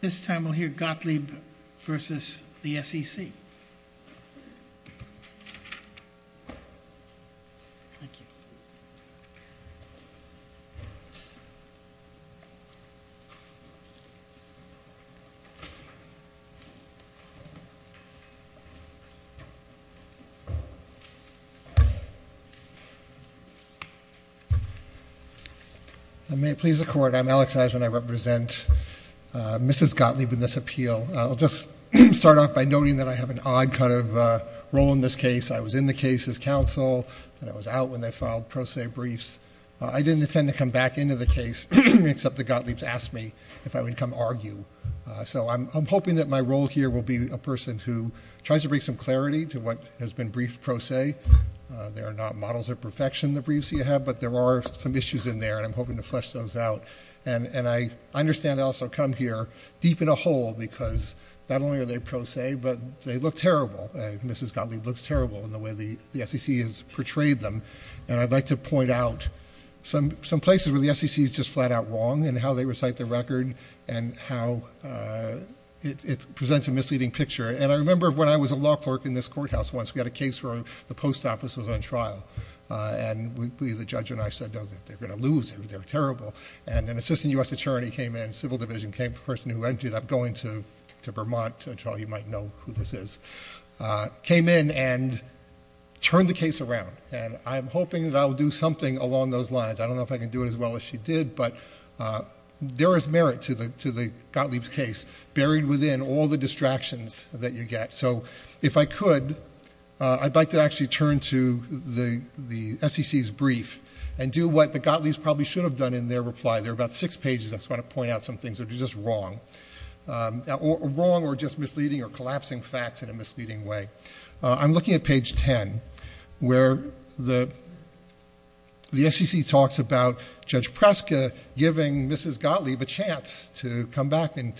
This time we'll hear Gottlieb v. the SEC. May it please the court, I'm Alex Eisman, I represent Mrs. Gottlieb in this appeal. I'll just start off by noting that I have an odd kind of role in this case. I was in the case as counsel, then I was out when they filed pro se briefs. I didn't intend to come back into the case except that Gottlieb asked me if I would come argue. So I'm hoping that my role here will be a person who tries to bring some clarity to what has been briefed pro se. There are not models of perfection, the briefs that you have, but there are some issues in there and I'm hoping to flesh those out. And I understand I also come here deep in a hole because not only are they pro se, but they look terrible, Mrs. Gottlieb looks terrible in the way the SEC has portrayed them. And I'd like to point out some places where the SEC is just flat out wrong in how they recite the record and how it presents a misleading picture. And I remember when I was a law clerk in this courthouse once, we had a case where the post office was on trial and the judge and I said, no, they're going to lose, they're terrible. And an assistant U.S. attorney came in, civil division came, the person who ended up going to Vermont, and Charlie, you might know who this is, came in and turned the case around. And I'm hoping that I'll do something along those lines. I don't know if I can do it as well as she did, but there is merit to the Gottlieb's case buried within all the distractions that you get. So if I could, I'd like to actually turn to the SEC's brief and do what the Gottlieb's probably should have done in their reply. There are about six pages. I just want to point out some things that are just wrong, wrong or just misleading or collapsing facts in a misleading way. I'm looking at page 10 where the SEC talks about Judge Preska giving Mrs. Gottlieb a chance to come back and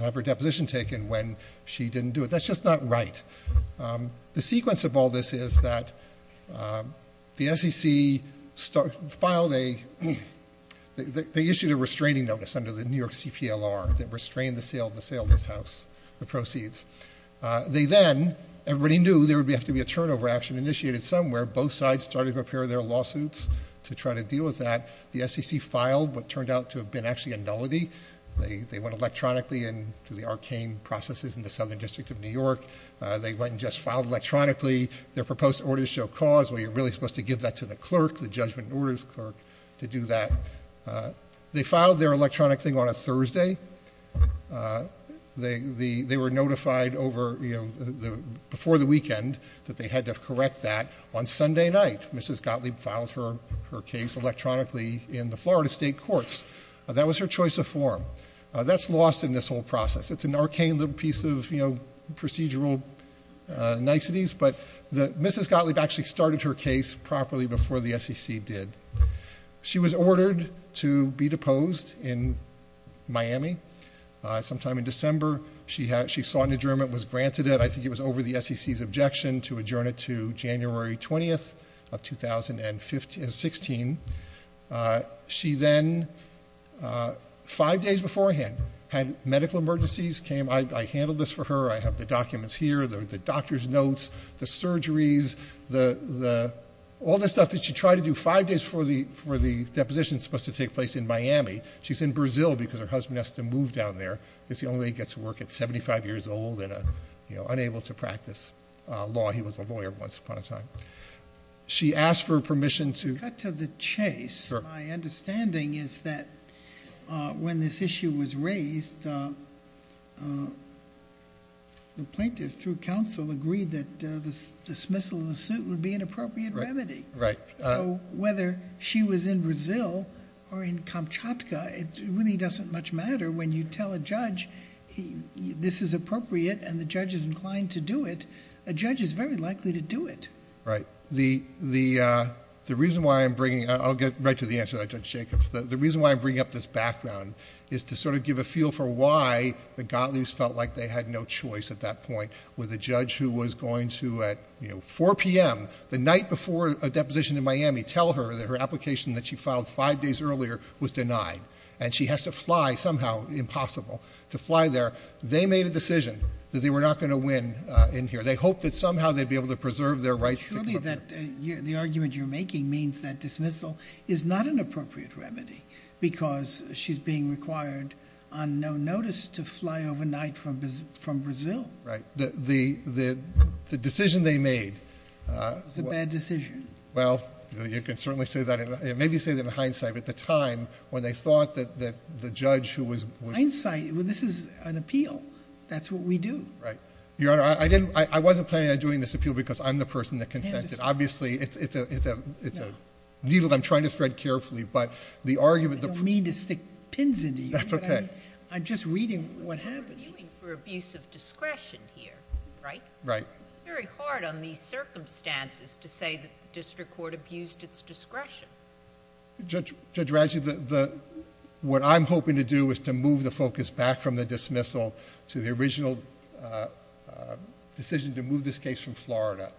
have her deposition taken when she didn't do it. That's just not right. The sequence of all this is that the SEC filed a, they issued a restraining notice under the New York CPLR that restrained the sale of the sale of this house, the proceeds. They then, everybody knew there would have to be a turnover action initiated somewhere. Both sides started to prepare their lawsuits to try to deal with that. The SEC filed what turned out to have been actually a nullity. They went electronically into the arcane processes in the Southern District of New York. They went and just filed electronically their proposed order to show cause. Well, you're really supposed to give that to the clerk, the judgment orders clerk, to do that. They filed their electronic thing on a Thursday. They were notified before the weekend that they had to correct that on Sunday night. Mrs. Gottlieb filed her case electronically in the Florida State Courts. That was her choice of form. That's lost in this whole process. It's an arcane little piece of procedural niceties, but Mrs. Gottlieb actually started her case properly before the SEC did. She was ordered to be deposed in Miami. Sometime in December, she saw an adjournment was granted it. I think it was over the SEC's objection to adjourn it to January 20th of 2016. She then, five days beforehand, had medical emergencies came. I handled this for her. I have the documents here, the doctor's notes, the surgeries, all the stuff that she tried to do five days before the deposition was supposed to take place in Miami. She's in Brazil because her husband has to move down there because he only gets to work at 75 years old and unable to practice law. He was a lawyer once upon a time. She asked for permission to- Cut to the chase. My understanding is that when this issue was raised, the plaintiff through counsel agreed that the dismissal of the suit would be an appropriate remedy. So whether she was in Brazil or in Kamchatka, it really doesn't much matter when you tell a judge this is appropriate and the judge is inclined to do it, a judge is very likely to do it. Right, the reason why I'm bringing, I'll get right to the answer that Judge Jacobs, the reason why I'm bringing up this background is to sort of give a feel for why the Gottliebs felt like they had no choice at that point. With a judge who was going to, at 4 PM, the night before a deposition in Miami, tell her that her application that she filed five days earlier was denied. And she has to fly somehow, impossible, to fly there. They made a decision that they were not going to win in here. They hoped that somehow they'd be able to preserve their rights to come here. Surely the argument you're making means that dismissal is not an appropriate remedy. Because she's being required on no notice to fly overnight from Brazil. Right, the decision they made- It was a bad decision. Well, you can certainly say that, maybe say that in hindsight, but the time when they thought that the judge who was- Hindsight, this is an appeal. That's what we do. Right. Your Honor, I wasn't planning on doing this appeal because I'm the person that consented. Obviously, it's a needle that I'm trying to thread carefully, but the argument- I don't mean to stick pins into you. That's okay. I'm just reading what happened. We're arguing for abuse of discretion here, right? Right. It's very hard on these circumstances to say that the district court abused its discretion. Judge Razzi, what I'm hoping to do is to move the focus back from the dismissal to the original decision to move this case from Florida.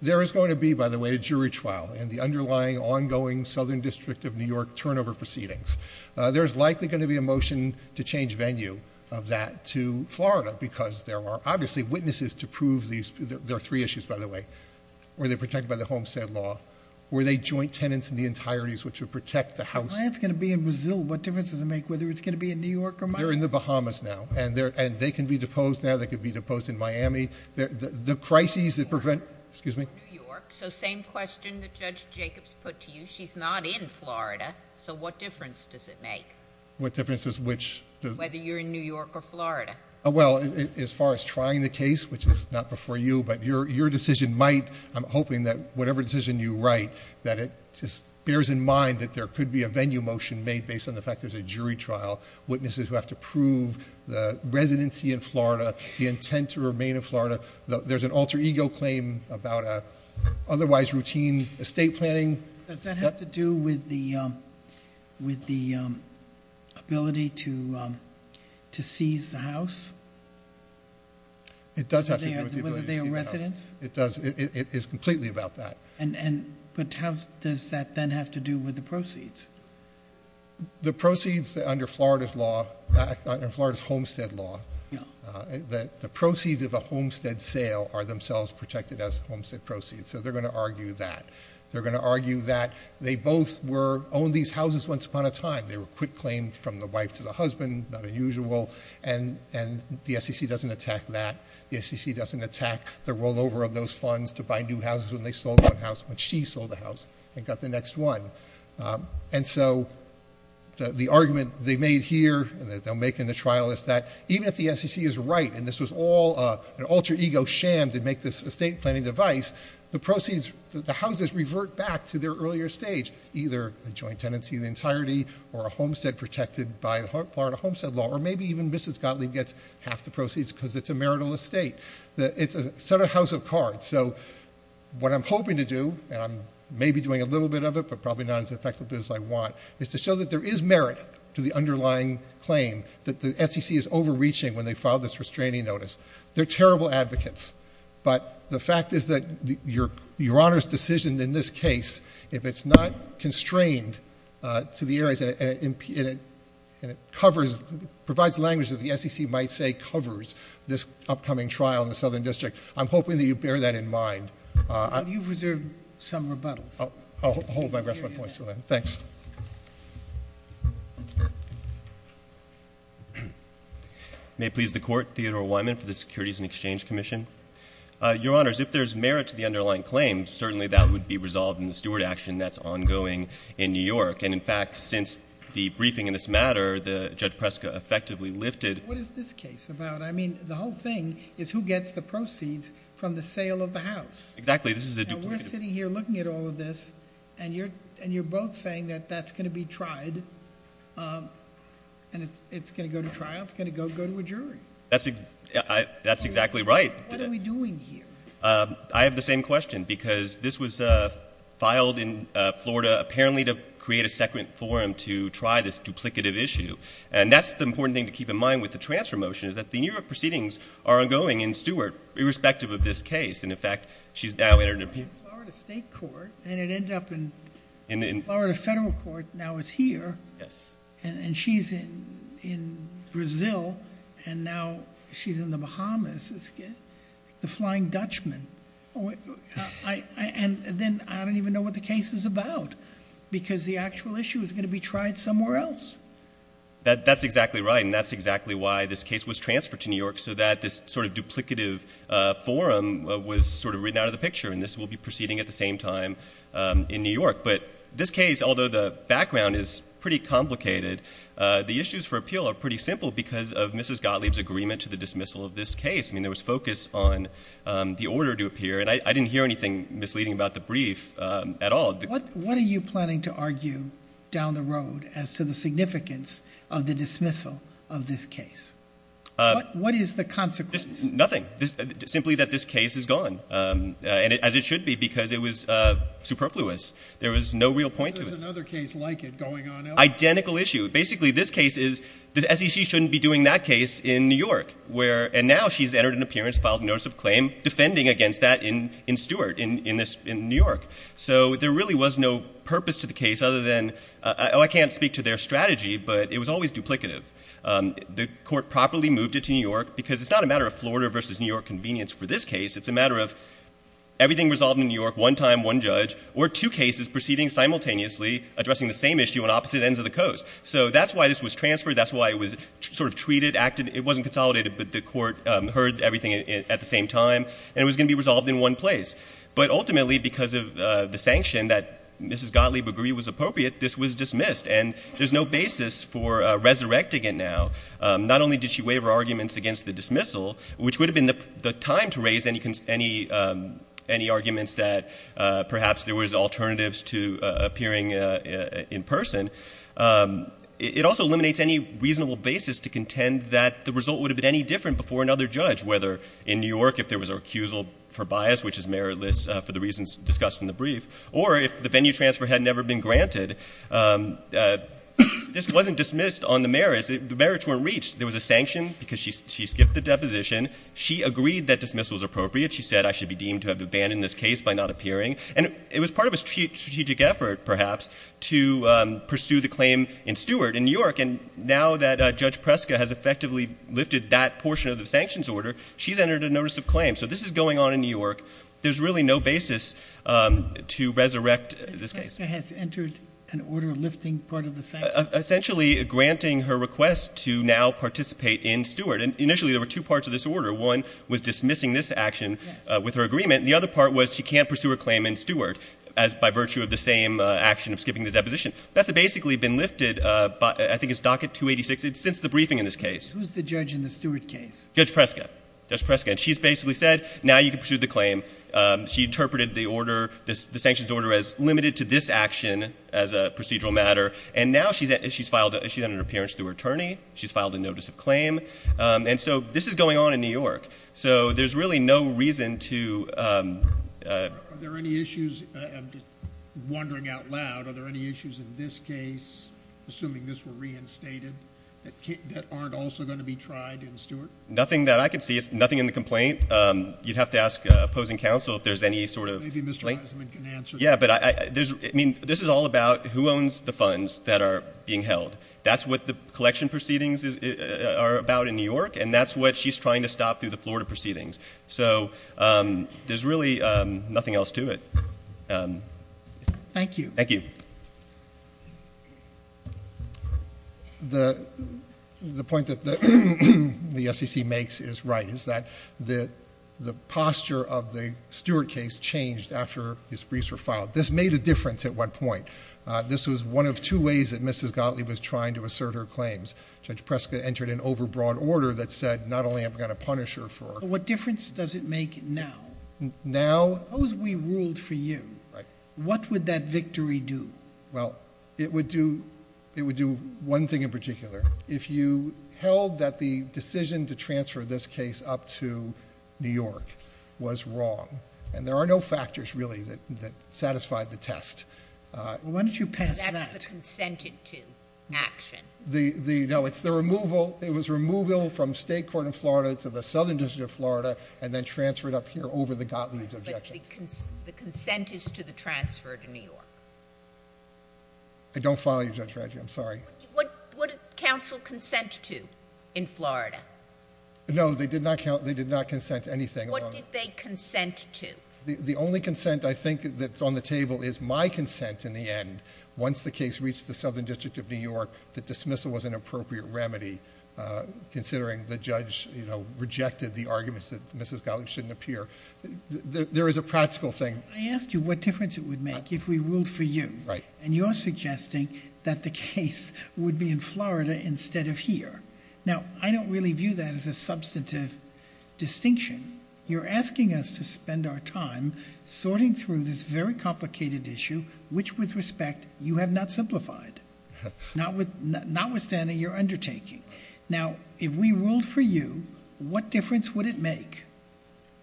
There is going to be, by the way, a jury trial in the underlying, ongoing Southern District of New York turnover proceedings. There's likely going to be a motion to change venue of that to Florida, because there are obviously witnesses to prove these. There are three issues, by the way. Were they protected by the Homestead Law? Were they joint tenants in the entireties which would protect the house? Well, it's going to be in Brazil. What difference does it make whether it's going to be in New York or Miami? They're in the Bahamas now, and they can be deposed now. They could be deposed in Miami. The crises that prevent- Excuse me? New York, so same question that Judge Jacobs put to you. She's not in Florida, so what difference does it make? What difference is which? Whether you're in New York or Florida. Well, as far as trying the case, which is not before you, but your decision might. I'm hoping that whatever decision you write, that it just bears in mind that there could be a venue motion made based on the fact there's a jury trial. Witnesses who have to prove the residency in Florida, the intent to remain in Florida. There's an alter ego claim about a otherwise routine estate planning. Does that have to do with the ability to seize the house? It does have to do with the ability to seize the house. Whether they are residents? It does, it is completely about that. And, but how does that then have to do with the proceeds? The proceeds under Florida's law, under Florida's homestead law, that the proceeds of a homestead sale are themselves protected as homestead proceeds, so they're going to argue that. They're going to argue that they both were, owned these houses once upon a time. They were quick claimed from the wife to the husband, not unusual, and the SEC doesn't attack that. The SEC doesn't attack the rollover of those funds to buy new houses when they sold one house, when she sold a house and got the next one. And so, the argument they made here, that they'll make in the trial is that, even if the SEC is right, and this was all an alter ego sham to make this estate planning device, the proceeds, the houses revert back to their earlier stage. Either a joint tenancy in entirety, or a homestead protected by Florida homestead law, or maybe even Mrs. Gottlieb gets half the proceeds because it's a marital estate. It's a set of house of cards. So, what I'm hoping to do, and I'm maybe doing a little bit of it, but probably not as effectively as I want, is to show that there is merit to the underlying claim that the SEC is overreaching when they filed this restraining notice. They're terrible advocates, but the fact is that your honor's decision in this case, if it's not constrained to the areas, and it provides language that the SEC might say covers this upcoming trial in the Southern District. I'm hoping that you bear that in mind. You've reserved some rebuttals. I'll hold my rest of my points to that. Thanks. May it please the court, Theodore Wyman for the Securities and Exchange Commission. Your honors, if there's merit to the underlying claim, certainly that would be resolved in the steward action that's ongoing in New York. And in fact, since the briefing in this matter, the Judge Preska effectively lifted- What is this case about? I mean, the whole thing is who gets the proceeds from the sale of the house. Exactly, this is a duplicated- And we're sitting here looking at all of this, and you're both saying that that's going to be tried, and it's going to go to trial, it's going to go to a jury. That's exactly right. What are we doing here? I have the same question, because this was filed in Florida, apparently to create a second forum to try this duplicative issue. And that's the important thing to keep in mind with the transfer motion, is that the New York proceedings are ongoing in Stewart, irrespective of this case. And in fact, she's now entered into- In the Florida State Court, and it ended up in Florida Federal Court, now it's here. Yes. And she's in Brazil, and now she's in the Bahamas, the Flying Dutchman. And then I don't even know what the case is about, because the actual issue is going to be tried somewhere else. That's exactly right, and that's exactly why this case was transferred to New York, so that this sort of duplicative forum was sort of written out of the picture, and this will be proceeding at the same time in New York. But this case, although the background is pretty complicated, the issues for appeal are pretty simple because of Mrs. Gottlieb's agreement to the dismissal of this case. I mean, there was focus on the order to appear, and I didn't hear anything misleading about the brief at all. What are you planning to argue down the road as to the significance of the dismissal of this case? What is the consequence? Nothing, simply that this case is gone, as it should be, because it was superfluous. There was no real point to it. There's another case like it going on elsewhere. Identical issue. Basically, this case is, the SEC shouldn't be doing that case in New York, and now she's entered an appearance, filed a notice of claim, defending against that in Stewart, in New York. So there really was no purpose to the case other than, I can't speak to their strategy, but it was always duplicative. The court properly moved it to New York, because it's not a matter of Florida versus New York convenience for this case. It's a matter of everything resolved in New York, one time, one judge, or two cases proceeding simultaneously, addressing the same issue on opposite ends of the coast. So that's why this was transferred. That's why it was sort of treated, acted, it wasn't consolidated, but the court heard everything at the same time, and it was going to be resolved in one place. But ultimately, because of the sanction that Mrs. Gottlieb agreed was appropriate, this was dismissed, and there's no basis for resurrecting it now. Not only did she waive her arguments against the dismissal, which would have been the time to raise any arguments that perhaps there was alternatives to appearing in person, it also eliminates any reasonable basis to contend that the result would have been any different before another judge, whether in New York, if there was an accusal for bias, which is meritless for the reasons discussed in the brief, or if the venue transfer had never been granted. This wasn't dismissed on the merits, the merits weren't reached. There was a sanction, because she skipped the deposition. She agreed that dismissal was appropriate. She said, I should be deemed to have abandoned this case by not appearing. And it was part of a strategic effort, perhaps, to pursue the claim in Stewart in New York. And now that Judge Preska has effectively lifted that portion of the sanctions order, she's entered a notice of claim. So this is going on in New York. There's really no basis to resurrect this case. Judge Preska has entered an order lifting part of the sanctions? Essentially, granting her request to now participate in Stewart. And initially, there were two parts of this order. One was dismissing this action with her agreement. The other part was she can't pursue her claim in Stewart, as by virtue of the same action of skipping the deposition. That's basically been lifted, I think it's docket 286, since the briefing in this case. Who's the judge in the Stewart case? Judge Preska. Judge Preska. And she's basically said, now you can pursue the claim. She interpreted the order, the sanctions order, as limited to this action as a procedural matter. And now she's filed an appearance to her attorney. She's filed a notice of claim. And so this is going on in New York. So there's really no reason to- Are there any issues, I'm just wandering out loud, are there any issues in this case, assuming this were reinstated, that aren't also going to be tried in Stewart? Nothing that I can see, nothing in the complaint. You'd have to ask opposing counsel if there's any sort of- Maybe Mr. Eisenman can answer that. Yeah, but this is all about who owns the funds that are being held. That's what the collection proceedings are about in New York, and that's what she's trying to stop through the Florida proceedings. So there's really nothing else to it. Thank you. Thank you. The point that the SEC makes is right, is that the posture of the Stewart case changed after his briefs were filed. This made a difference at one point. This was one of two ways that Mrs. Gottlieb was trying to assert her claims. Judge Preska entered an overbroad order that said, not only am I going to punish her for- What difference does it make now? Now- Suppose we ruled for you. Right. What would that victory do? Well, it would do one thing in particular. If you held that the decision to transfer this case up to New York was wrong, and there are no factors, really, that satisfied the test. Well, why don't you pass that? That's the consented to action. No, it's the removal. It was removal from state court in Florida to the Southern District of Florida, and then transferred up here over the Gottlieb's objection. The consent is to the transfer to New York. I don't follow you, Judge Radjo, I'm sorry. What did counsel consent to in Florida? No, they did not consent to anything. What did they consent to? The only consent, I think, that's on the table is my consent in the end. Once the case reached the Southern District of New York, the dismissal was an appropriate remedy, considering the judge rejected the arguments that Mrs. Gottlieb shouldn't appear. There is a practical thing. I asked you what difference it would make if we ruled for you. And you're suggesting that the case would be in Florida instead of here. Now, I don't really view that as a substantive distinction. You're asking us to spend our time sorting through this very complicated issue, which with respect, you have not simplified. Notwithstanding your undertaking. Now, if we ruled for you, what difference would it make?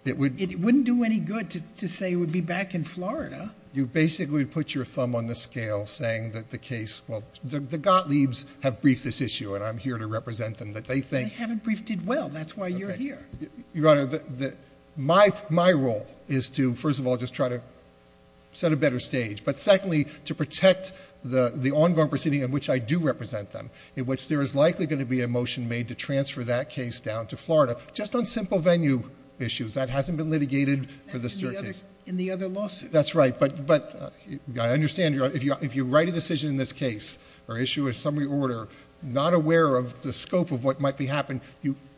It wouldn't do any good to say it would be back in Florida. You basically put your thumb on the scale saying that the case, well, the Gottliebs have briefed this issue, and I'm here to represent them. That they think- They haven't briefed it well, that's why you're here. Your Honor, my role is to, first of all, just try to set a better stage. But secondly, to protect the ongoing proceeding in which I do represent them. In which there is likely going to be a motion made to transfer that case down to Florida, just on simple venue issues. That hasn't been litigated for the staircase. In the other lawsuit. That's right, but I understand if you write a decision in this case, or issue a summary order, not aware of the scope of what might be happening,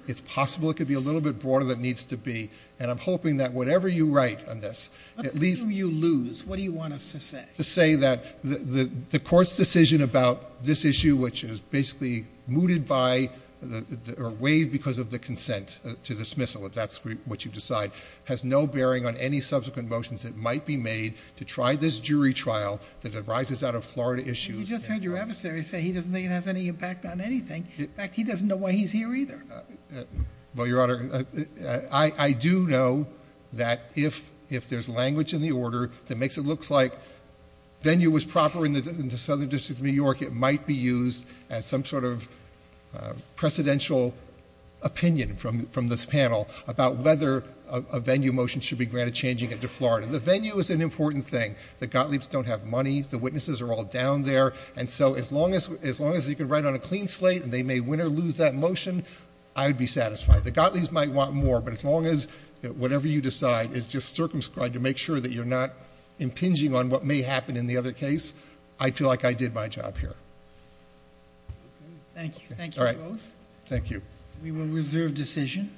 it's possible it could be a little bit broader than it needs to be. And I'm hoping that whatever you write on this, at least- Let's assume you lose. What do you want us to say? To say that the court's decision about this issue, which is basically mooted by, or waived because of the consent to dismissal, if that's what you decide. Has no bearing on any subsequent motions that might be made to try this jury trial that arises out of Florida issues. You just heard your adversary say he doesn't think it has any impact on anything. In fact, he doesn't know why he's here either. Well, Your Honor, I do know that if there's language in the order that makes it look like venue was proper in the Southern District of New York, it might be used as some sort of precedential opinion from this panel about whether a venue motion should be granted changing it to Florida. The venue is an important thing. The Gottliebs don't have money. The witnesses are all down there. And so as long as you can write on a clean slate and they may win or lose that motion, I'd be satisfied. The Gottliebs might want more, but as long as whatever you decide is just circumscribed to make sure that you're not impinging on what may happen in the other case, I feel like I did my job here. Thank you, thank you both. Thank you. We will reserve decision.